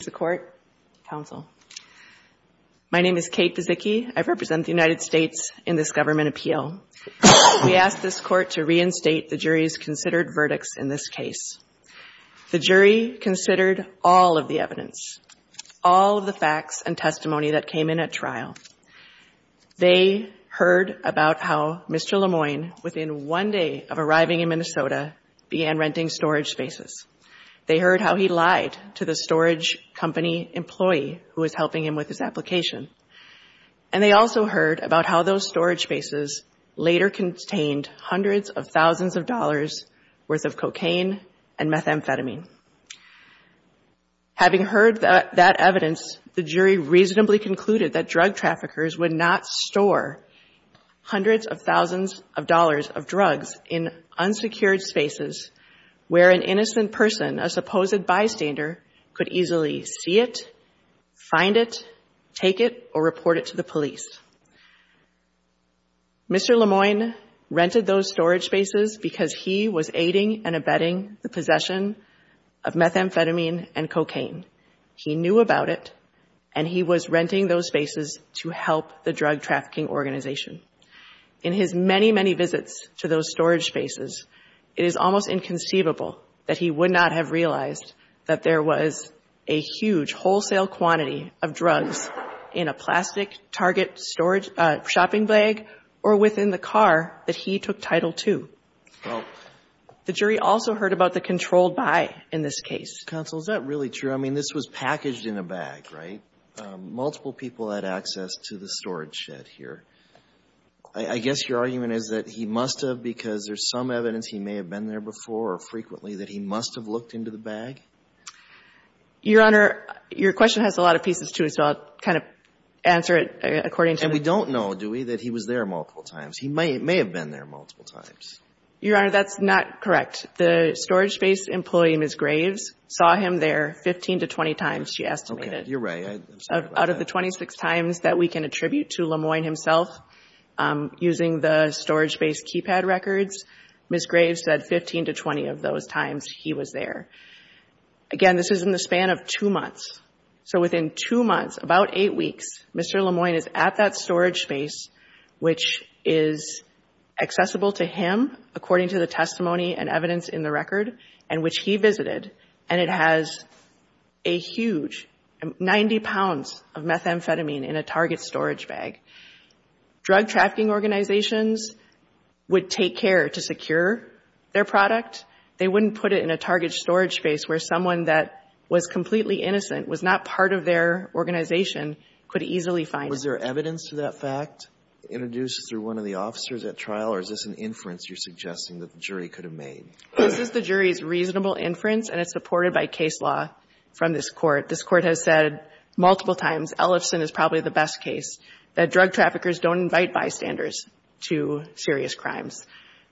is a court counsel. My name is Kate Vizicky. I represent the United States in this government appeal. We ask this Court to reinstate the jury's considered verdicts in this case. The jury considered all of the evidence, all of the facts and testimony that came in at trial. They heard about how Mr. Lemoine, within one day of arriving in Minnesota, began renting storage spaces. They heard how he lied to the storage company employee who was helping him with his application. And they also heard about how those storage spaces later contained hundreds of thousands of dollars' worth of cocaine and methamphetamine. Having heard that evidence, the jury reasonably concluded that drug traffickers would not where an innocent person, a supposed bystander, could easily see it, find it, take it or report it to the police. Mr. Lemoine rented those storage spaces because he was aiding and abetting the possession of methamphetamine and cocaine. He knew about it and he was renting those spaces to help the drug trafficking organization. In his many, many visits to those storage spaces, it is almost inconceivable that he would not have realized that there was a huge wholesale quantity of drugs in a plastic Target storage shopping bag or within the car that he took Title II. The jury also heard about the controlled buy in this case. Counsel, is that really true? I mean, this was packaged in a bag, right? Multiple people had access to the storage shed here. I guess your argument is that he must have, because there's some evidence he may have been there before or frequently, that he must have looked into the bag? Your Honor, your question has a lot of pieces to it, so I'll kind of answer it according to the... And we don't know, do we, that he was there multiple times? He may have been there multiple times. Your Honor, that's not correct. The storage space employee, Ms. Graves, saw him there 15 to 20 times, she estimated. Okay. You're right. I'm sorry about that. There are 26 times that we can attribute to Lemoyne himself using the storage-based keypad records. Ms. Graves said 15 to 20 of those times he was there. Again, this is in the span of two months. So within two months, about eight weeks, Mr. Lemoyne is at that storage space, which is accessible to him according to the testimony and evidence in the record, and which he visited, and it has a huge, 90 pounds of methamphetamine in a target storage bag. Drug trafficking organizations would take care to secure their product. They wouldn't put it in a target storage space where someone that was completely innocent, was not part of their organization, could easily find it. Was there evidence to that fact introduced through one of the officers at trial, or is this an inference you're suggesting that the jury could have made? This is the jury's reasonable inference, and it's supported by case law from this court. This court has said multiple times, Ellison is probably the best case, that drug traffickers don't invite bystanders to serious crimes,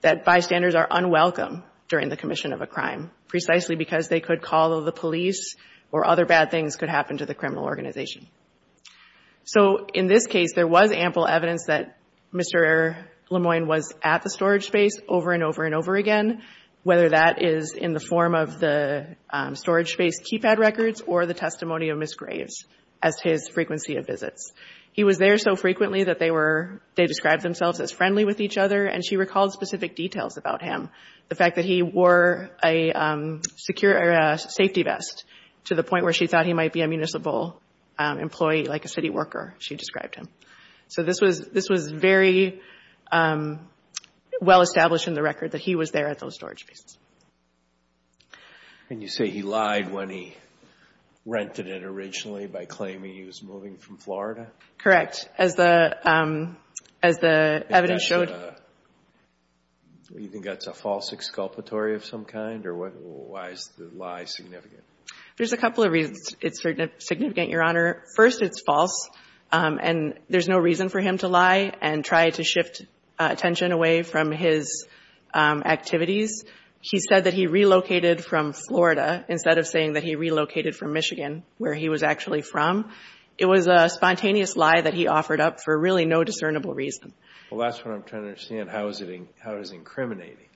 that bystanders are unwelcome during the commission of a crime, precisely because they could call the police or other bad things could happen to the criminal organization. So in this case, there was ample evidence that Mr. Lemoyne was at the storage space over and over and over again, whether that is in the form of the storage space keypad records or the testimony of Ms. Graves, as his frequency of visits. He was there so frequently that they described themselves as friendly with each other, and she recalled specific details about him. The fact that he wore a safety vest, to the point where she thought he might be a municipal employee, like a city worker, she described him. So this was very well established in the record, that he was there at those storage spaces. And you say he lied when he rented it originally by claiming he was moving from Florida? Correct. As the evidence showed. Do you think that's a false exculpatory of some kind, or why is the lie significant? There's a couple of reasons it's significant, Your Honor. First, it's false, and there's no reason for him to lie and try to shift attention away from his activities. He said that he relocated from Florida, instead of saying that he relocated from Michigan, where he was actually from. It was a spontaneous lie that he offered up for really no discernible reason. Well, that's what I'm trying to understand. How is it incriminating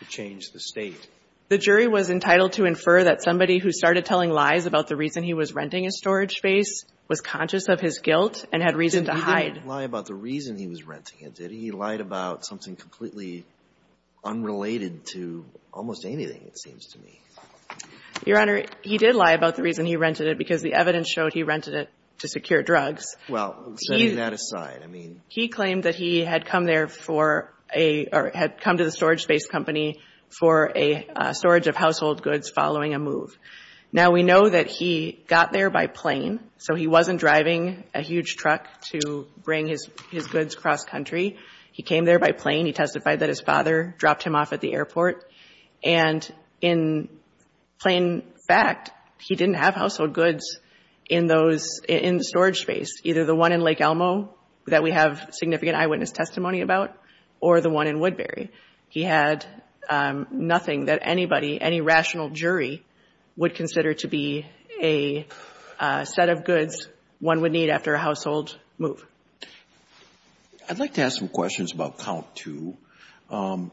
to change the State? The jury was entitled to infer that somebody who started telling lies about the reason he was renting a storage space was conscious of his guilt and had reason to hide. He didn't lie about the reason he was renting it, did he? He lied about something completely unrelated to almost anything, it seems to me. Your Honor, he did lie about the reason he rented it, because the evidence showed he rented it to secure drugs. Well, setting that aside, I mean. He claimed that he had come to the storage space company for a storage of household goods following a move. Now, we know that he got there by plane, so he wasn't driving a huge truck to bring his goods cross-country. He came there by plane. He testified that his father dropped him off at the airport, and in plain fact, he didn't have household goods in the storage space, either the one in Lake Elmo that we have significant eyewitness testimony about, or the one in Woodbury. He had nothing that anybody, any rational jury, would consider to be a set of goods one would need after a household move. I'd like to ask some questions about count two, and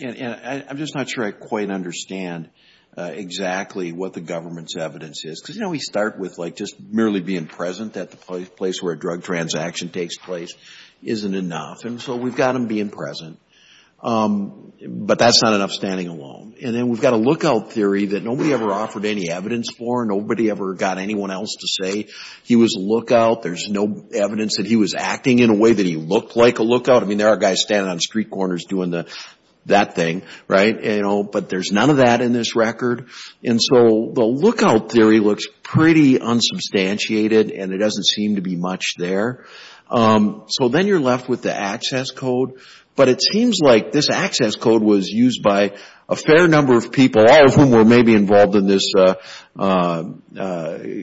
I'm just not sure I quite understand exactly what the government's evidence is. Because, you know, we start with, like, just merely being present at the place where a drug transaction takes place isn't enough. And so we've got him being present, but that's not enough standing alone. And then we've got a lookout theory that nobody ever offered any evidence for. Nobody ever got anyone else to say he was a lookout. There's no evidence that he was acting in a way that he looked like a lookout. I mean, there are guys standing on street corners doing that thing, right? But there's none of that in this record. And so the lookout theory looks pretty unsubstantiated, and it doesn't seem to be much there. So then you're left with the access code. But it seems like this access code was used by a fair number of people, all of whom were maybe involved in this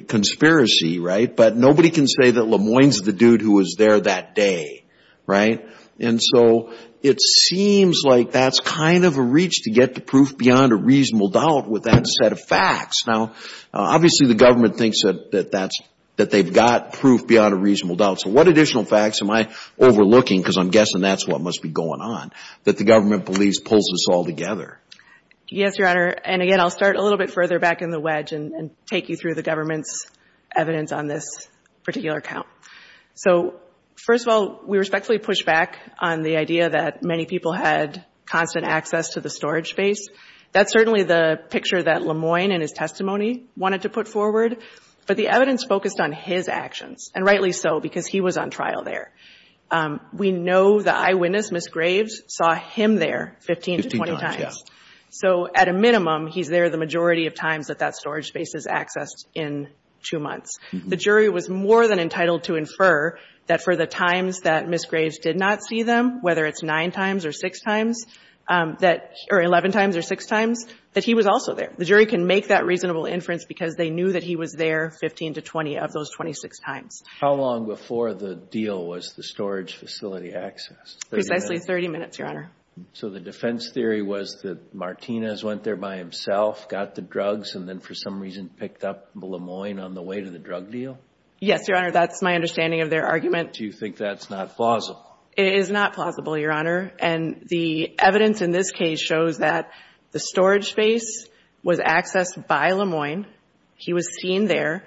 conspiracy, right? But nobody can say that LeMoyne's the dude who was there that day, right? And so it seems like that's kind of a reach to get to proof beyond a reasonable doubt with that set of facts. Now, obviously, the government thinks that that's, that they've got proof beyond a reasonable doubt. So what additional facts am I overlooking, because I'm guessing that's what must be going on, that the government believes pulls us all together? Yes, Your Honor. And again, I'll start a little bit further back in the wedge and take you through the government's evidence on this particular count. So, first of all, we respectfully push back on the idea that many people had constant access to the storage space. That's certainly the picture that LeMoyne in his testimony wanted to put forward. But the evidence focused on his actions, and rightly so, because he was on trial there. We know the eyewitness, Ms. Graves, saw him there 15 to 20 times. So at a minimum, he's there the majority of times that that storage space is accessed in two months. The jury was more than entitled to infer that for the times that Ms. Graves did not see them, whether it's nine times or six times, or 11 times or six times, that he was also there. The jury can make that reasonable inference because they knew that he was there 15 to 20 of those 26 times. How long before the deal was the storage facility accessed? Precisely 30 minutes, Your Honor. So the defense theory was that Martinez went there by himself, got the drugs, and then for some reason picked up LeMoyne on the way to the drug deal? Yes, Your Honor. That's my understanding of their argument. Do you think that's not plausible? It is not plausible, Your Honor. And the evidence in this case shows that the storage space was accessed by LeMoyne. He was seen there.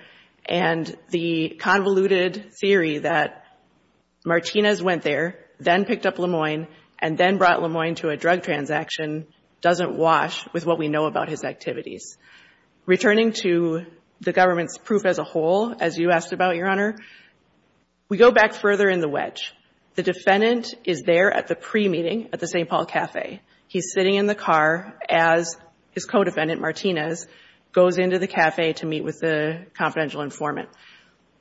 And the convoluted theory that Martinez went there, then picked up LeMoyne, and then brought LeMoyne to a drug transaction doesn't wash with what we know about his activities. Returning to the government's proof as a whole, as you asked about, Your Honor, we go back further in the wedge. The defendant is there at the pre-meeting at the St. Paul Cafe. He's sitting in the car as his co-defendant, Martinez, goes into the cafe to meet with the confidential informant.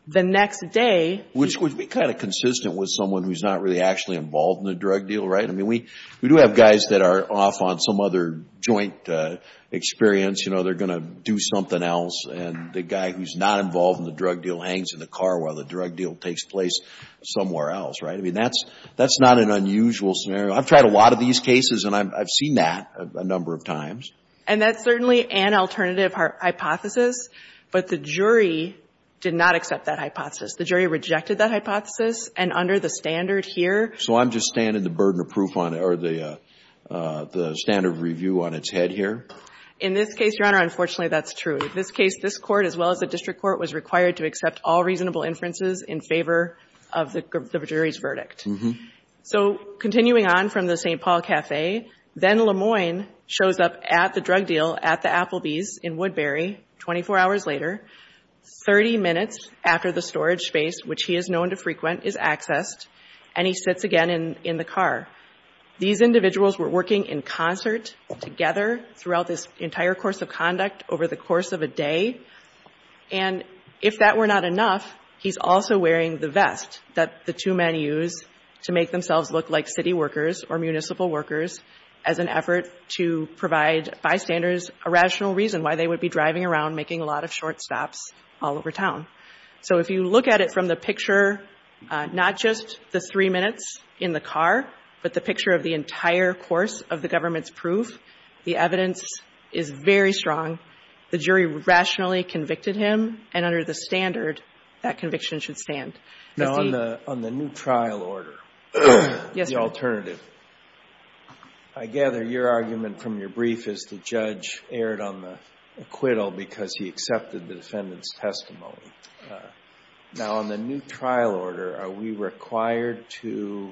The next day... Which would be kind of consistent with someone who's not really actually involved in the drug deal, right? I mean, we do have guys that are off on some other joint experience, you know, they're going to do something else. And the guy who's not involved in the drug deal hangs in the car while the drug deal takes place somewhere else, right? I mean, that's not an unusual scenario. I've tried a lot of these cases, and I've seen that a number of times. And that's certainly an alternative hypothesis, but the jury did not accept that hypothesis. The jury rejected that hypothesis, and under the standard here... So I'm just standing the burden of proof on it, or the standard of review on its head here? In this case, Your Honor, unfortunately that's true. In this case, this court, as well as the district court, was required to accept all reasonable inferences in favor of the jury's verdict. So, continuing on from the St. Paul Cafe, then Lemoyne shows up at the drug deal at the Applebee's in Woodbury, 24 hours later, 30 minutes after the storage space, which he is known to frequent, is accessed, and he sits again in the car. These individuals were working in concert, together, throughout this entire course of conduct, over the course of a day. And if that were not enough, he's also wearing the vest that the two men use to make themselves look like city workers or municipal workers, as an effort to provide bystanders a rational reason why they would be driving around making a lot of short stops all over town. So if you look at it from the picture, not just the three minutes in the car, but the picture of the entire course of the government's proof, the evidence is very strong. The jury rationally convicted him, and under the standard, that conviction should stand. Now, on the new trial order, the alternative, I gather your argument from your brief is the judge erred on the acquittal because he accepted the defendant's testimony. Now, on the new trial order, are we required to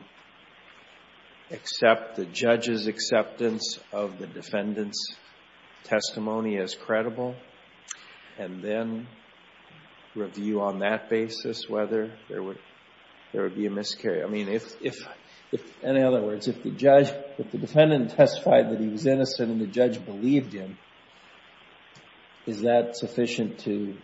accept the judge's acceptance of the defendant's testimony as credible and then review on that basis whether there would be a miscarriage? I mean, in other words, if the defendant testified that he was innocent and the judge believed him, is that sufficient to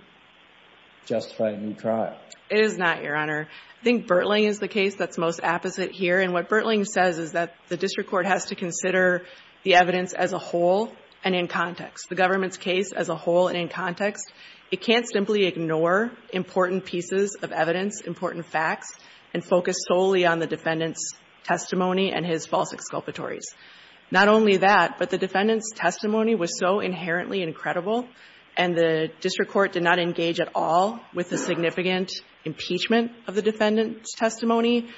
justify a new trial? It is not, Your Honor. I think Bertling is the case that's most apposite here, and what Bertling says is that the district court has to consider the evidence as a whole and in context, the government's case as a whole and in context. It can't simply ignore important pieces of evidence, important facts, and focus solely on the defendant's testimony Not only that, but the defendant's testimony was so inherently incredible and the district court did not engage at all with the significant impeachment of the defendant's testimony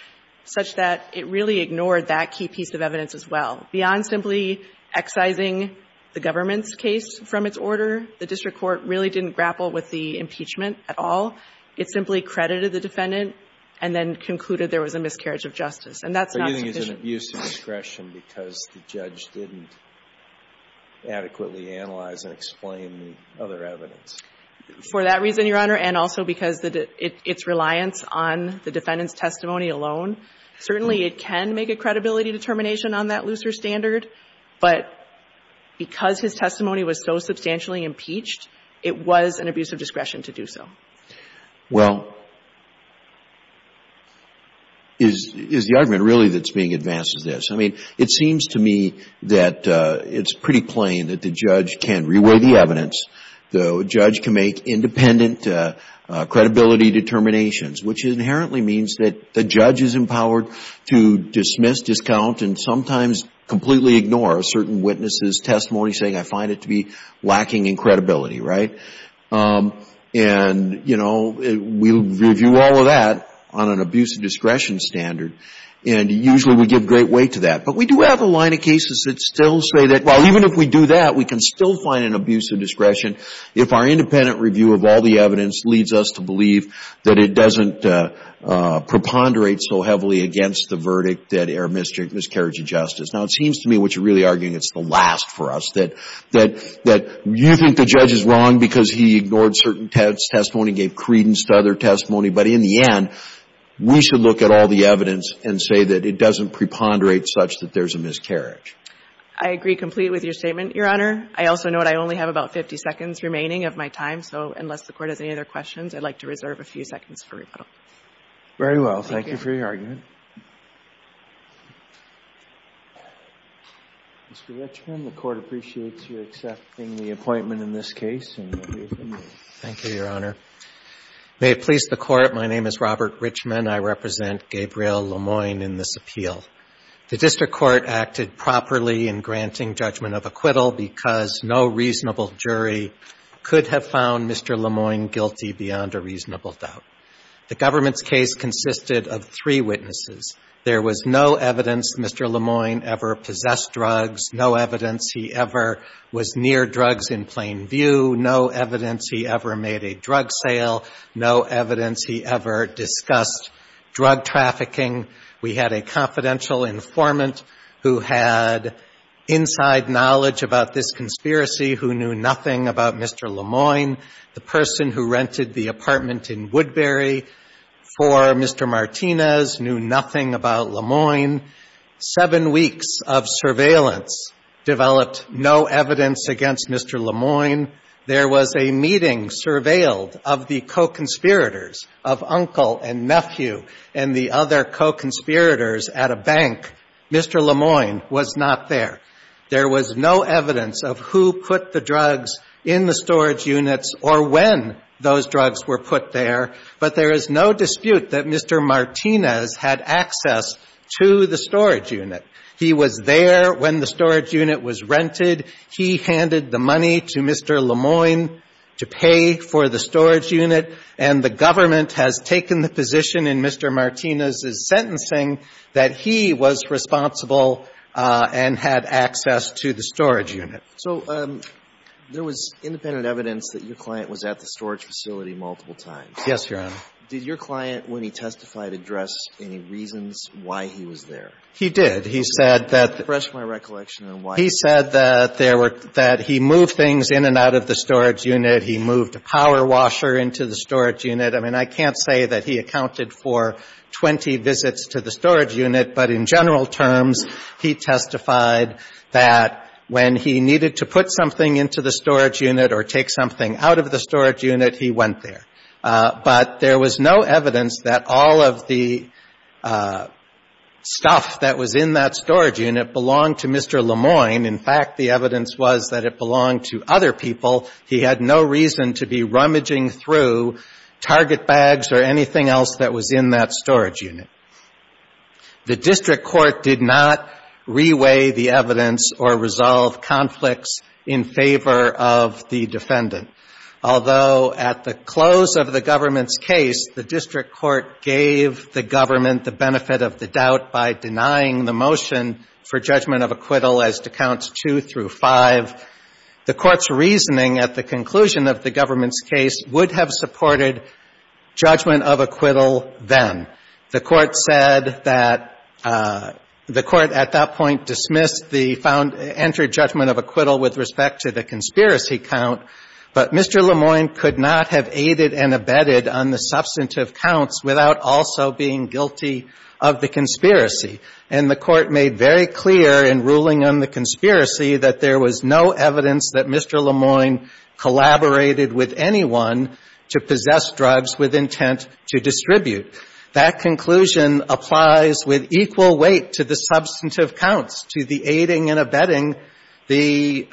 such that it really ignored that key piece of evidence as well. Beyond simply excising the government's case from its order, the district court really didn't grapple with the impeachment at all. It simply credited the defendant and then concluded there was a miscarriage of justice. But you think it's an abuse of discretion because the judge didn't adequately analyze and explain the other evidence? For that reason, Your Honor, and also because its reliance on the defendant's testimony alone, certainly it can make a credibility determination on that looser standard, but because his testimony was so substantially impeached, it was an abuse of discretion to do so. Well, is the argument really that's being advanced as this? I mean, it seems to me that it's pretty plain that the judge can re-weigh the evidence, the judge can make independent credibility determinations, which inherently means that the judge is empowered to dismiss, discount, and sometimes completely ignore a certain witness's testimony, saying, I find it to be lacking in credibility, right? And, you know, we review all of that on an abuse of discretion standard and usually we give great weight to that. But we do have a line of cases that still say that, well, even if we do that, we can still find an abuse of discretion if our independent review of all the evidence leads us to believe that it doesn't preponderate so heavily against the verdict that err miscarriage of justice. Now, it seems to me what you're really arguing is the last for us, that you think the judge is wrong because he ignored certain testimony, gave credence to other testimony, but in the end, we should look at all the evidence and say that it doesn't preponderate such that there's a miscarriage. I agree complete with your statement, Your Honor. I also note I only have about 50 seconds remaining of my time, so unless the Court has any other questions, I'd like to reserve a few seconds for rebuttal. Very well. Thank you for your argument. Mr. Richman, the Court appreciates you accepting the appointment in this case. Thank you, Your Honor. May it please the Court, my name is Robert Richman. I represent Gabriel Lemoyne in this appeal. The District Court acted properly in granting judgment of acquittal because no reasonable jury could have found Mr. Lemoyne guilty beyond a reasonable doubt. The government's case consisted of three witnesses. There was no evidence Mr. Lemoyne ever possessed drugs, no evidence he ever was near drugs in plain view, no evidence he ever made a drug sale, no evidence he ever discussed drug trafficking. We had a confidential informant who had inside knowledge about this conspiracy, who knew nothing about Mr. Lemoyne. The person who rented the apartment in Woodbury for Mr. Martinez knew nothing about Lemoyne. Seven weeks of surveillance developed no evidence against Mr. Lemoyne. There was a meeting surveilled of the co-conspirators of uncle and nephew and the other co-conspirators at a bank. Mr. Lemoyne was not there. There was no evidence of who put the drugs in the storage units or when those drugs were put there, but there is no dispute that Mr. Martinez had access to the storage unit. He was there when the storage unit was rented. He handed the money to Mr. Lemoyne to pay for the storage unit, and the government has taken the position in Mr. Martinez's sentencing that he was responsible and had access to the storage unit. So there was independent evidence that your client was at the storage facility multiple times. Yes, Your Honor. Did your client, when he testified, address any reasons why he was there? He did. He said that he said that he moved things in and out of the storage unit. He moved a power washer into the storage unit. I mean, I can't say that he accounted for 20 visits to the storage unit, but in general terms, he testified that when he needed to put something into the storage unit or take something out of the storage unit, he went there. But there was no evidence that all of the stuff that was in that storage unit belonged to Mr. Lemoyne. In fact, the evidence was that it belonged to other people. He had no reason to be rummaging through target bags or anything else that was in that storage unit. The district court did not re-weigh the evidence or resolve conflicts in favor of the defendant. Although at the close of the government's case, the district court gave the government the benefit of the doubt by denying the motion for judgment of acquittal as to counts 2 through 5, the court's reasoning at the conclusion of the government's case would have supported judgment of acquittal then. The court said that the court at that point dismissed the judgment of acquittal with respect to the conspiracy count, but Mr. Lemoyne could not have aided and abetted on the substantive counts without also being guilty of the conspiracy. And the court made very clear in ruling on the conspiracy that there was no evidence that Mr. Lemoyne collaborated with anyone to possess drugs with intent to distribute. That conclusion applies with equal weight to the substantive counts, to the aiding and abetting the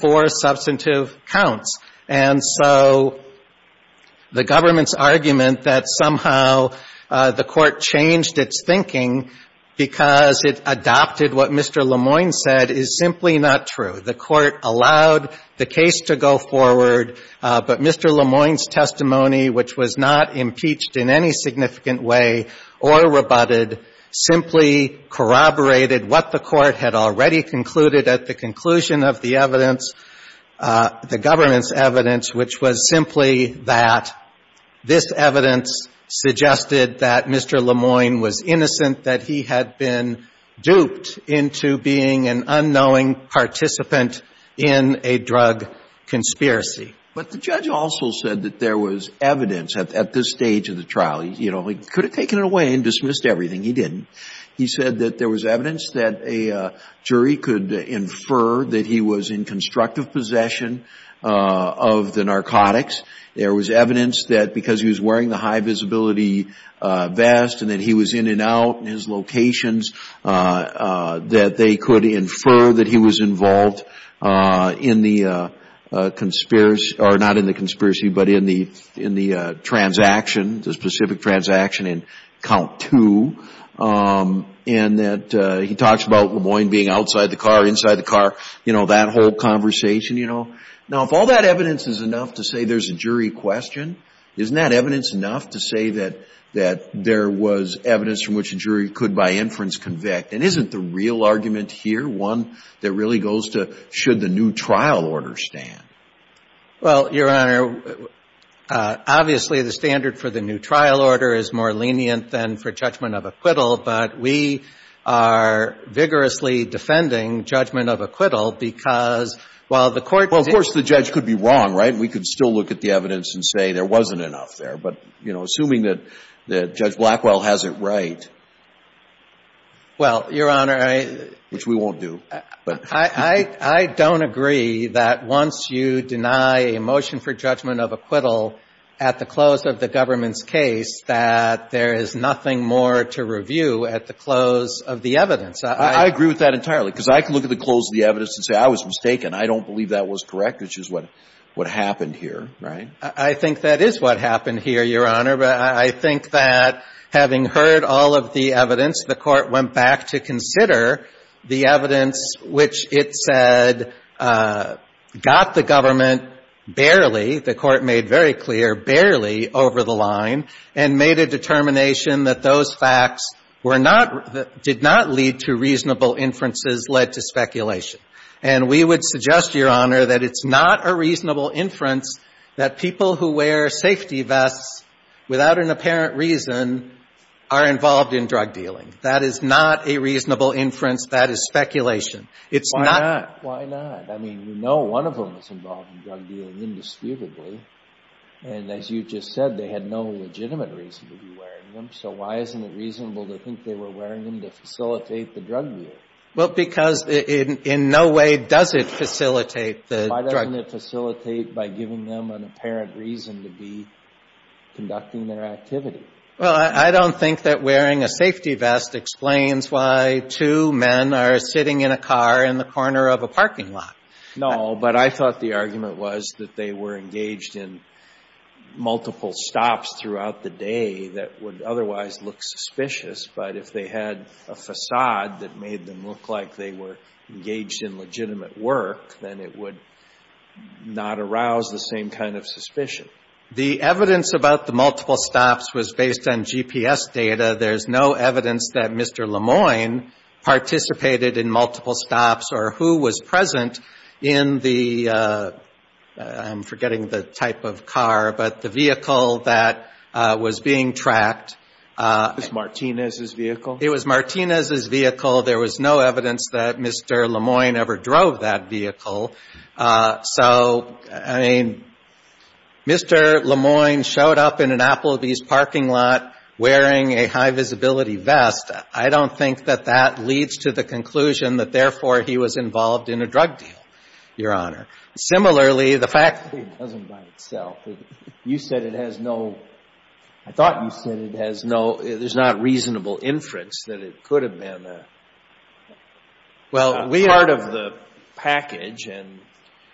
four substantive counts. And so the government's argument that somehow the court changed its thinking because it adopted what Mr. Lemoyne said is simply not true. The court allowed the case to go forward but Mr. Lemoyne's testimony which was not impeached in any significant way or rebutted simply corroborated what the court had already concluded at the conclusion of the evidence, the government's evidence which was simply that this evidence suggested that Mr. Lemoyne was innocent, that he had been duped into being an unknowing participant in a drug conspiracy. But the judge also said that there was evidence at this stage of the trial. He could have taken it away and dismissed everything. He didn't. He said that there was evidence that a jury could infer that he was in constructive possession of the narcotics. There was evidence that because he was wearing the high visibility vest and that he was in and out in his locations that they could infer that he was involved in the conspiracy or not in the conspiracy but in the transaction, the specific transaction in count two and that he talks about Lemoyne being outside the car, inside the car, you know, that whole conversation, you know. Now if all that evidence is enough to say there's a jury question, isn't that evidence enough to say that there was evidence from which a jury could by inference convict? And isn't the real argument here one that really goes to should the new trial order stand? Well, Your Honor, obviously the standard for the new trial order is more lenient than for judgment of acquittal but we are vigorously defending judgment of acquittal because while the court... Well, of course the judge could be wrong, right? We could still look at the evidence and say there wasn't enough there but, you know, assuming that Judge Blackwell has it right... Well, Your Honor, I... Which we won't do but... I don't agree that once you deny a motion for judgment of acquittal at the close of the government's case that there is nothing more to review at the close of the evidence. I agree with that entirely because I can look at the close of the evidence and say I was mistaken. I don't believe that was correct, which is what happened here, right? I think that is what happened here, Your Honor, but I think that having heard all of the evidence, the court went back to consider the evidence which it said got the government barely, the court made very clear, barely over the line and made a determination that those facts were not... did not lead to reasonable inferences led to speculation. And we would suggest, Your Honor, that it's not a reasonable inference that people who wear safety vests without an apparent reason are involved in drug dealing. That is not a reasonable inference. That is speculation. It's not... Why not? Why not? I mean, you know one of them is involved in drug dealing indisputably and, as you just said, they had no legitimate reason to be wearing them, so why isn't it reasonable to think they were wearing them to facilitate the drug deal? Well, because in no way does it facilitate the drug deal. Why doesn't it facilitate by giving them an apparent reason to be conducting their activity? Well, I don't think that wearing a safety vest explains why two men are sitting in a car in the corner of a parking lot. No, but I thought the argument was that they were engaged in multiple stops throughout the day that would otherwise look suspicious, but if they had a facade that made them look like they were engaged in legitimate work, then it would not arouse the same kind of suspicion. The evidence about the multiple stops was based on GPS data. There's no evidence that Mr. Lemoyne participated in multiple stops or who was present in the... I'm forgetting the type of car, but the vehicle that was being tracked... It was Martinez's vehicle? It was Martinez's vehicle. There was no evidence that Mr. Lemoyne ever drove that vehicle. So, I mean, Mr. Lemoyne showed up in an Applebee's parking lot wearing a high-visibility vest. I don't think that that leads to the conclusion that therefore he was involved in a drug deal, Your Honor. Similarly, the fact... You said it has no... I thought you said it has no... there's not reasonable inference that it could have been a part of the package.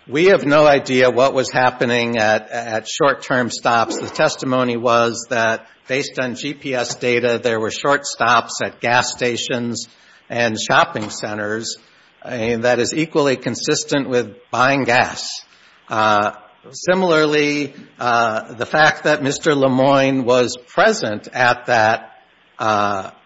We have no idea what was happening at short-term stops. The testimony was that based on GPS data, there were short stops at gas stations and shopping centers that is equally consistent with buying gas. Similarly, the fact that Mr. Lemoyne was present at that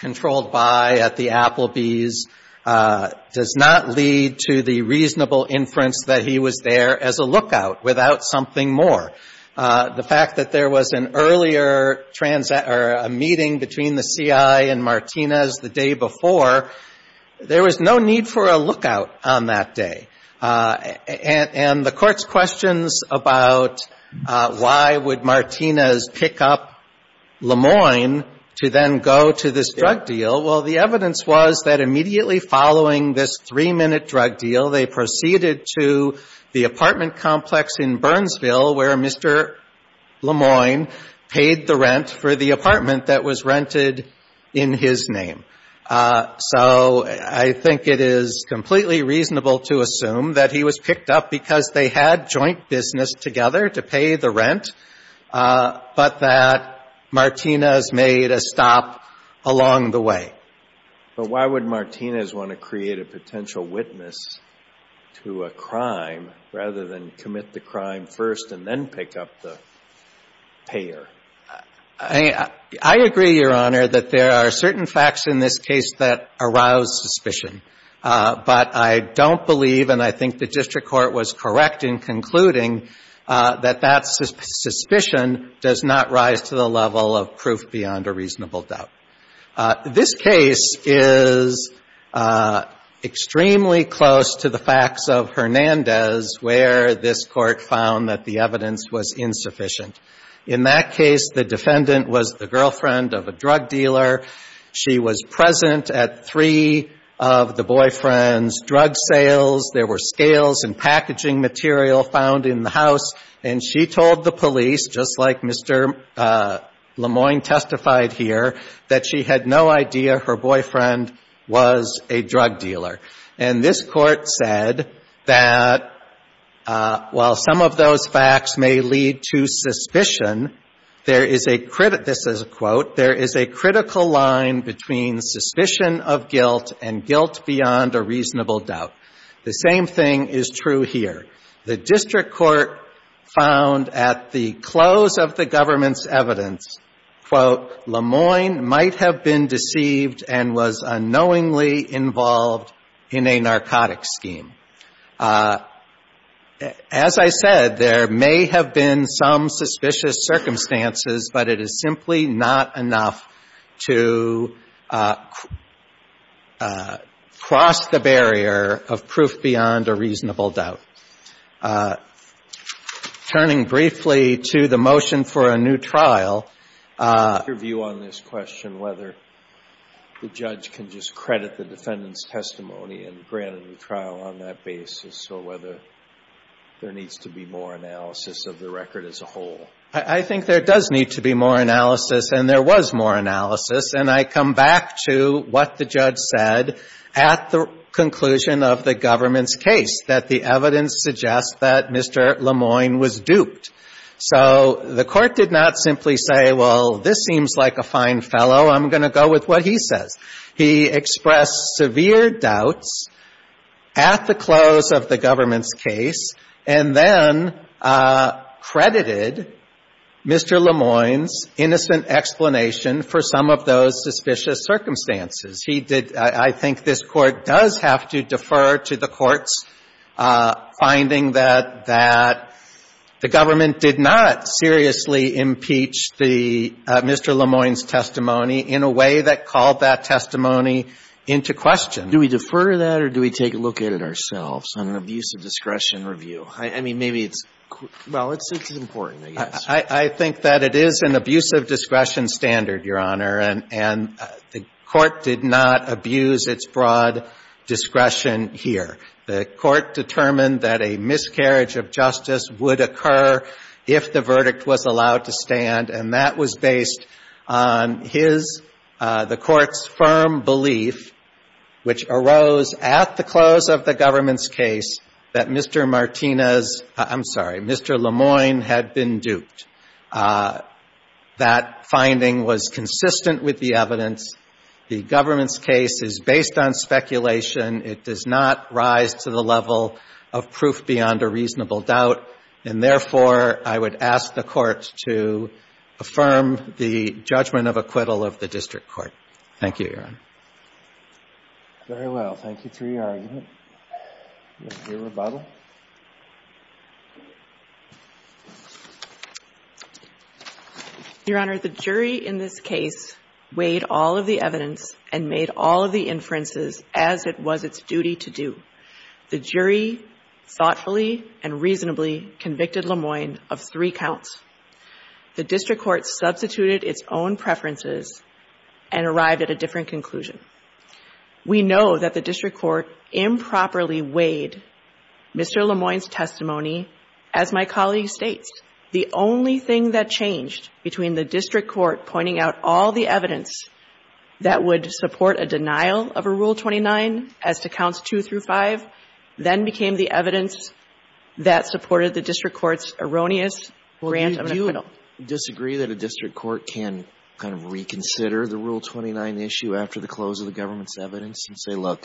controlled buy at the Applebee's does not lead to the reasonable inference that he was there as a lookout without something more. The fact that there was an earlier meeting between the C.I. and Martinez the day before, there was no need for a lookout on that day. And the Court's questions about why would Martinez pick up Lemoyne to then go to this drug deal, well, the evidence was that immediately following this three-minute drug deal, they proceeded to the apartment complex in Burnsville where Mr. Lemoyne paid the rent for the apartment that was rented in his name. So, I think it is completely reasonable to assume that he was picked up because they had joint business together to pay the rent, but that Martinez made a stop along the way. But why would Martinez want to create a potential witness to a crime rather than commit the crime first and then pick up the payer? I agree, Your Honor, that there are certain facts in this case that arouse suspicion, but I don't believe and I think the district court was correct in concluding that that suspicion does not rise to the level of proof beyond a reasonable doubt. This case is extremely close to the facts of the case. The defendant was the girlfriend of a drug dealer. She was present at three of the boyfriend's drug sales. There were scales and packaging material found in the house and she told the police, just like Mr. Lemoyne testified here, that she had no idea her boyfriend was a drug dealer. And this court said that while some of those facts may lead to suspicion, there is a critical, this is a quote, there is a critical line between suspicion of guilt and guilt beyond a reasonable doubt. The same thing is true here. The district court found at the close of the government's evidence, quote, Lemoyne might have been deceived and was unknowingly involved in a narcotic scheme. As I said, there may have been some suspicious circumstances, but it is simply not enough to cross the barrier of proof beyond a reasonable doubt. Turning briefly to the motion for a new trial. Your view on this question, whether the judge can just credit the defendant's testimony and grant a new trial on that basis or whether there needs to be more analysis of the record as a whole? I think there does need to be more analysis and there was more analysis and I come back to what the judge said at the conclusion of the government's case, that the evidence suggests that Mr. Lemoyne was duped. So the court did not simply say, well, this seems like a fine fellow, I'm going to go with what he says. He expressed severe doubts at the close of the government's case and then credited Mr. Lemoyne's innocent explanation for some of those suspicious circumstances. He did, I think this court does have to defer to the courts finding that the government did not seriously impeach the Mr. Lemoyne's testimony in a way that called that testimony into question. Do we defer to that or do we take a look at it ourselves on an abuse of discretion review? I mean, maybe it's, well, it's important, I guess. I think that it is an abuse of discretion standard, Your Honor, and the court did not abuse its broad discretion here. The court determined that a miscarriage of justice would occur if the verdict was allowed to stand, and that was based on his, the court's firm belief which arose at the close of the government's case that Mr. Martinez, I'm sorry, Mr. Lemoyne had been duped. That finding was consistent with the evidence. The government's case is not the case of a miscarriage of justice. and it is the case of a miscarriage of justice and it does not rise to the level of proof beyond a reasonable doubt. And therefore, I would ask the courts to affirm the judgment of acquittal of the district court. Thank you, Your Honor. Very well. Thank you for your argument. Your Honor, the jury in this case weighed all of the evidence and made all of the inferences as it was its duty to do. The jury thoughtfully and reasonably convicted Lemoyne of three counts. The district court substituted its own preferences and arrived at a different conclusion. We know that the district court improved and improperly weighed Mr. Lemoyne's testimony as my colleague states. The only thing that changed between the district court pointing out all the evidence that would support a denial of a Rule 29 as to counts 2 through 5 then became the evidence that supported the district court's erroneous grant of an acquittal. Well, do you disagree that a district court can kind of reconsider the Rule 29 issue after the close of the government's evidence and say, look,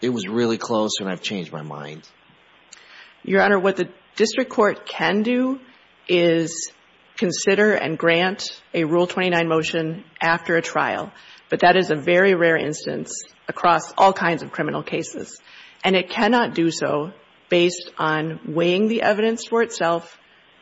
it was really close and I've changed my mind? Your Honor, what the district court can do is consider and grant a Rule 29 motion after a trial, but that is a very rare instance across all kinds of criminal cases. And it cannot do so based on weighing the evidence for itself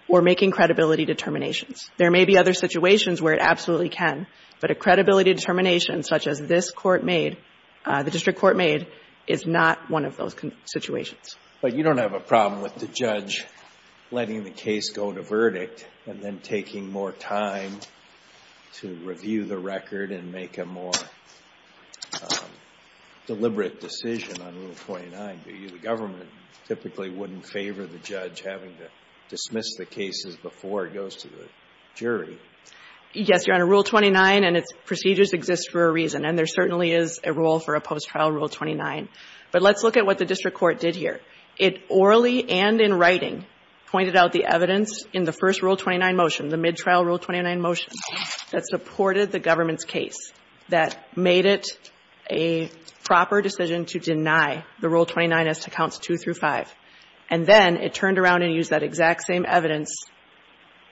or making credibility determinations. There may be other situations where it absolutely can, but a credibility determination such as this court made, the district court made, is not one of those situations. But you don't have a problem with the judge letting the case go to verdict and then taking more time to review the record and make a more deliberate decision on Rule 29. The government typically wouldn't favor the judge having to dismiss the cases before it goes to a jury. Yes, Your Honor, Rule 29 and its procedures exist for a reason, and there certainly is a role for a post-trial Rule 29. But let's look at what the district court did here. It orally and in writing pointed out the evidence in the first Rule 29 motion, the mid-trial Rule 29 motion, that supported the government's case, that made it a proper decision to deny the Rule 29 as to counts 2 through 5. And then it turned around and used that exact same evidence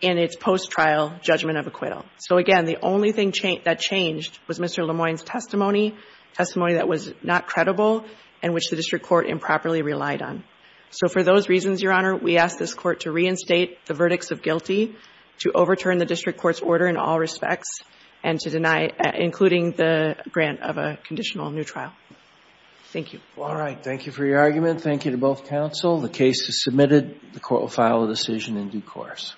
in its post-trial judgment of acquittal. So again, the only thing that changed was Mr. Lemoine's testimony, testimony that was not credible and which the district court improperly relied on. So for those reasons, Your Honor, we ask this court to reinstate the verdicts of guilty, to overturn the district court's order in all respects, and to deny, including the grant of a conditional new trial. Thank you. All right. Thank you for your argument. Thank you to both counsel. The case is submitted. The court will file a decision in due course.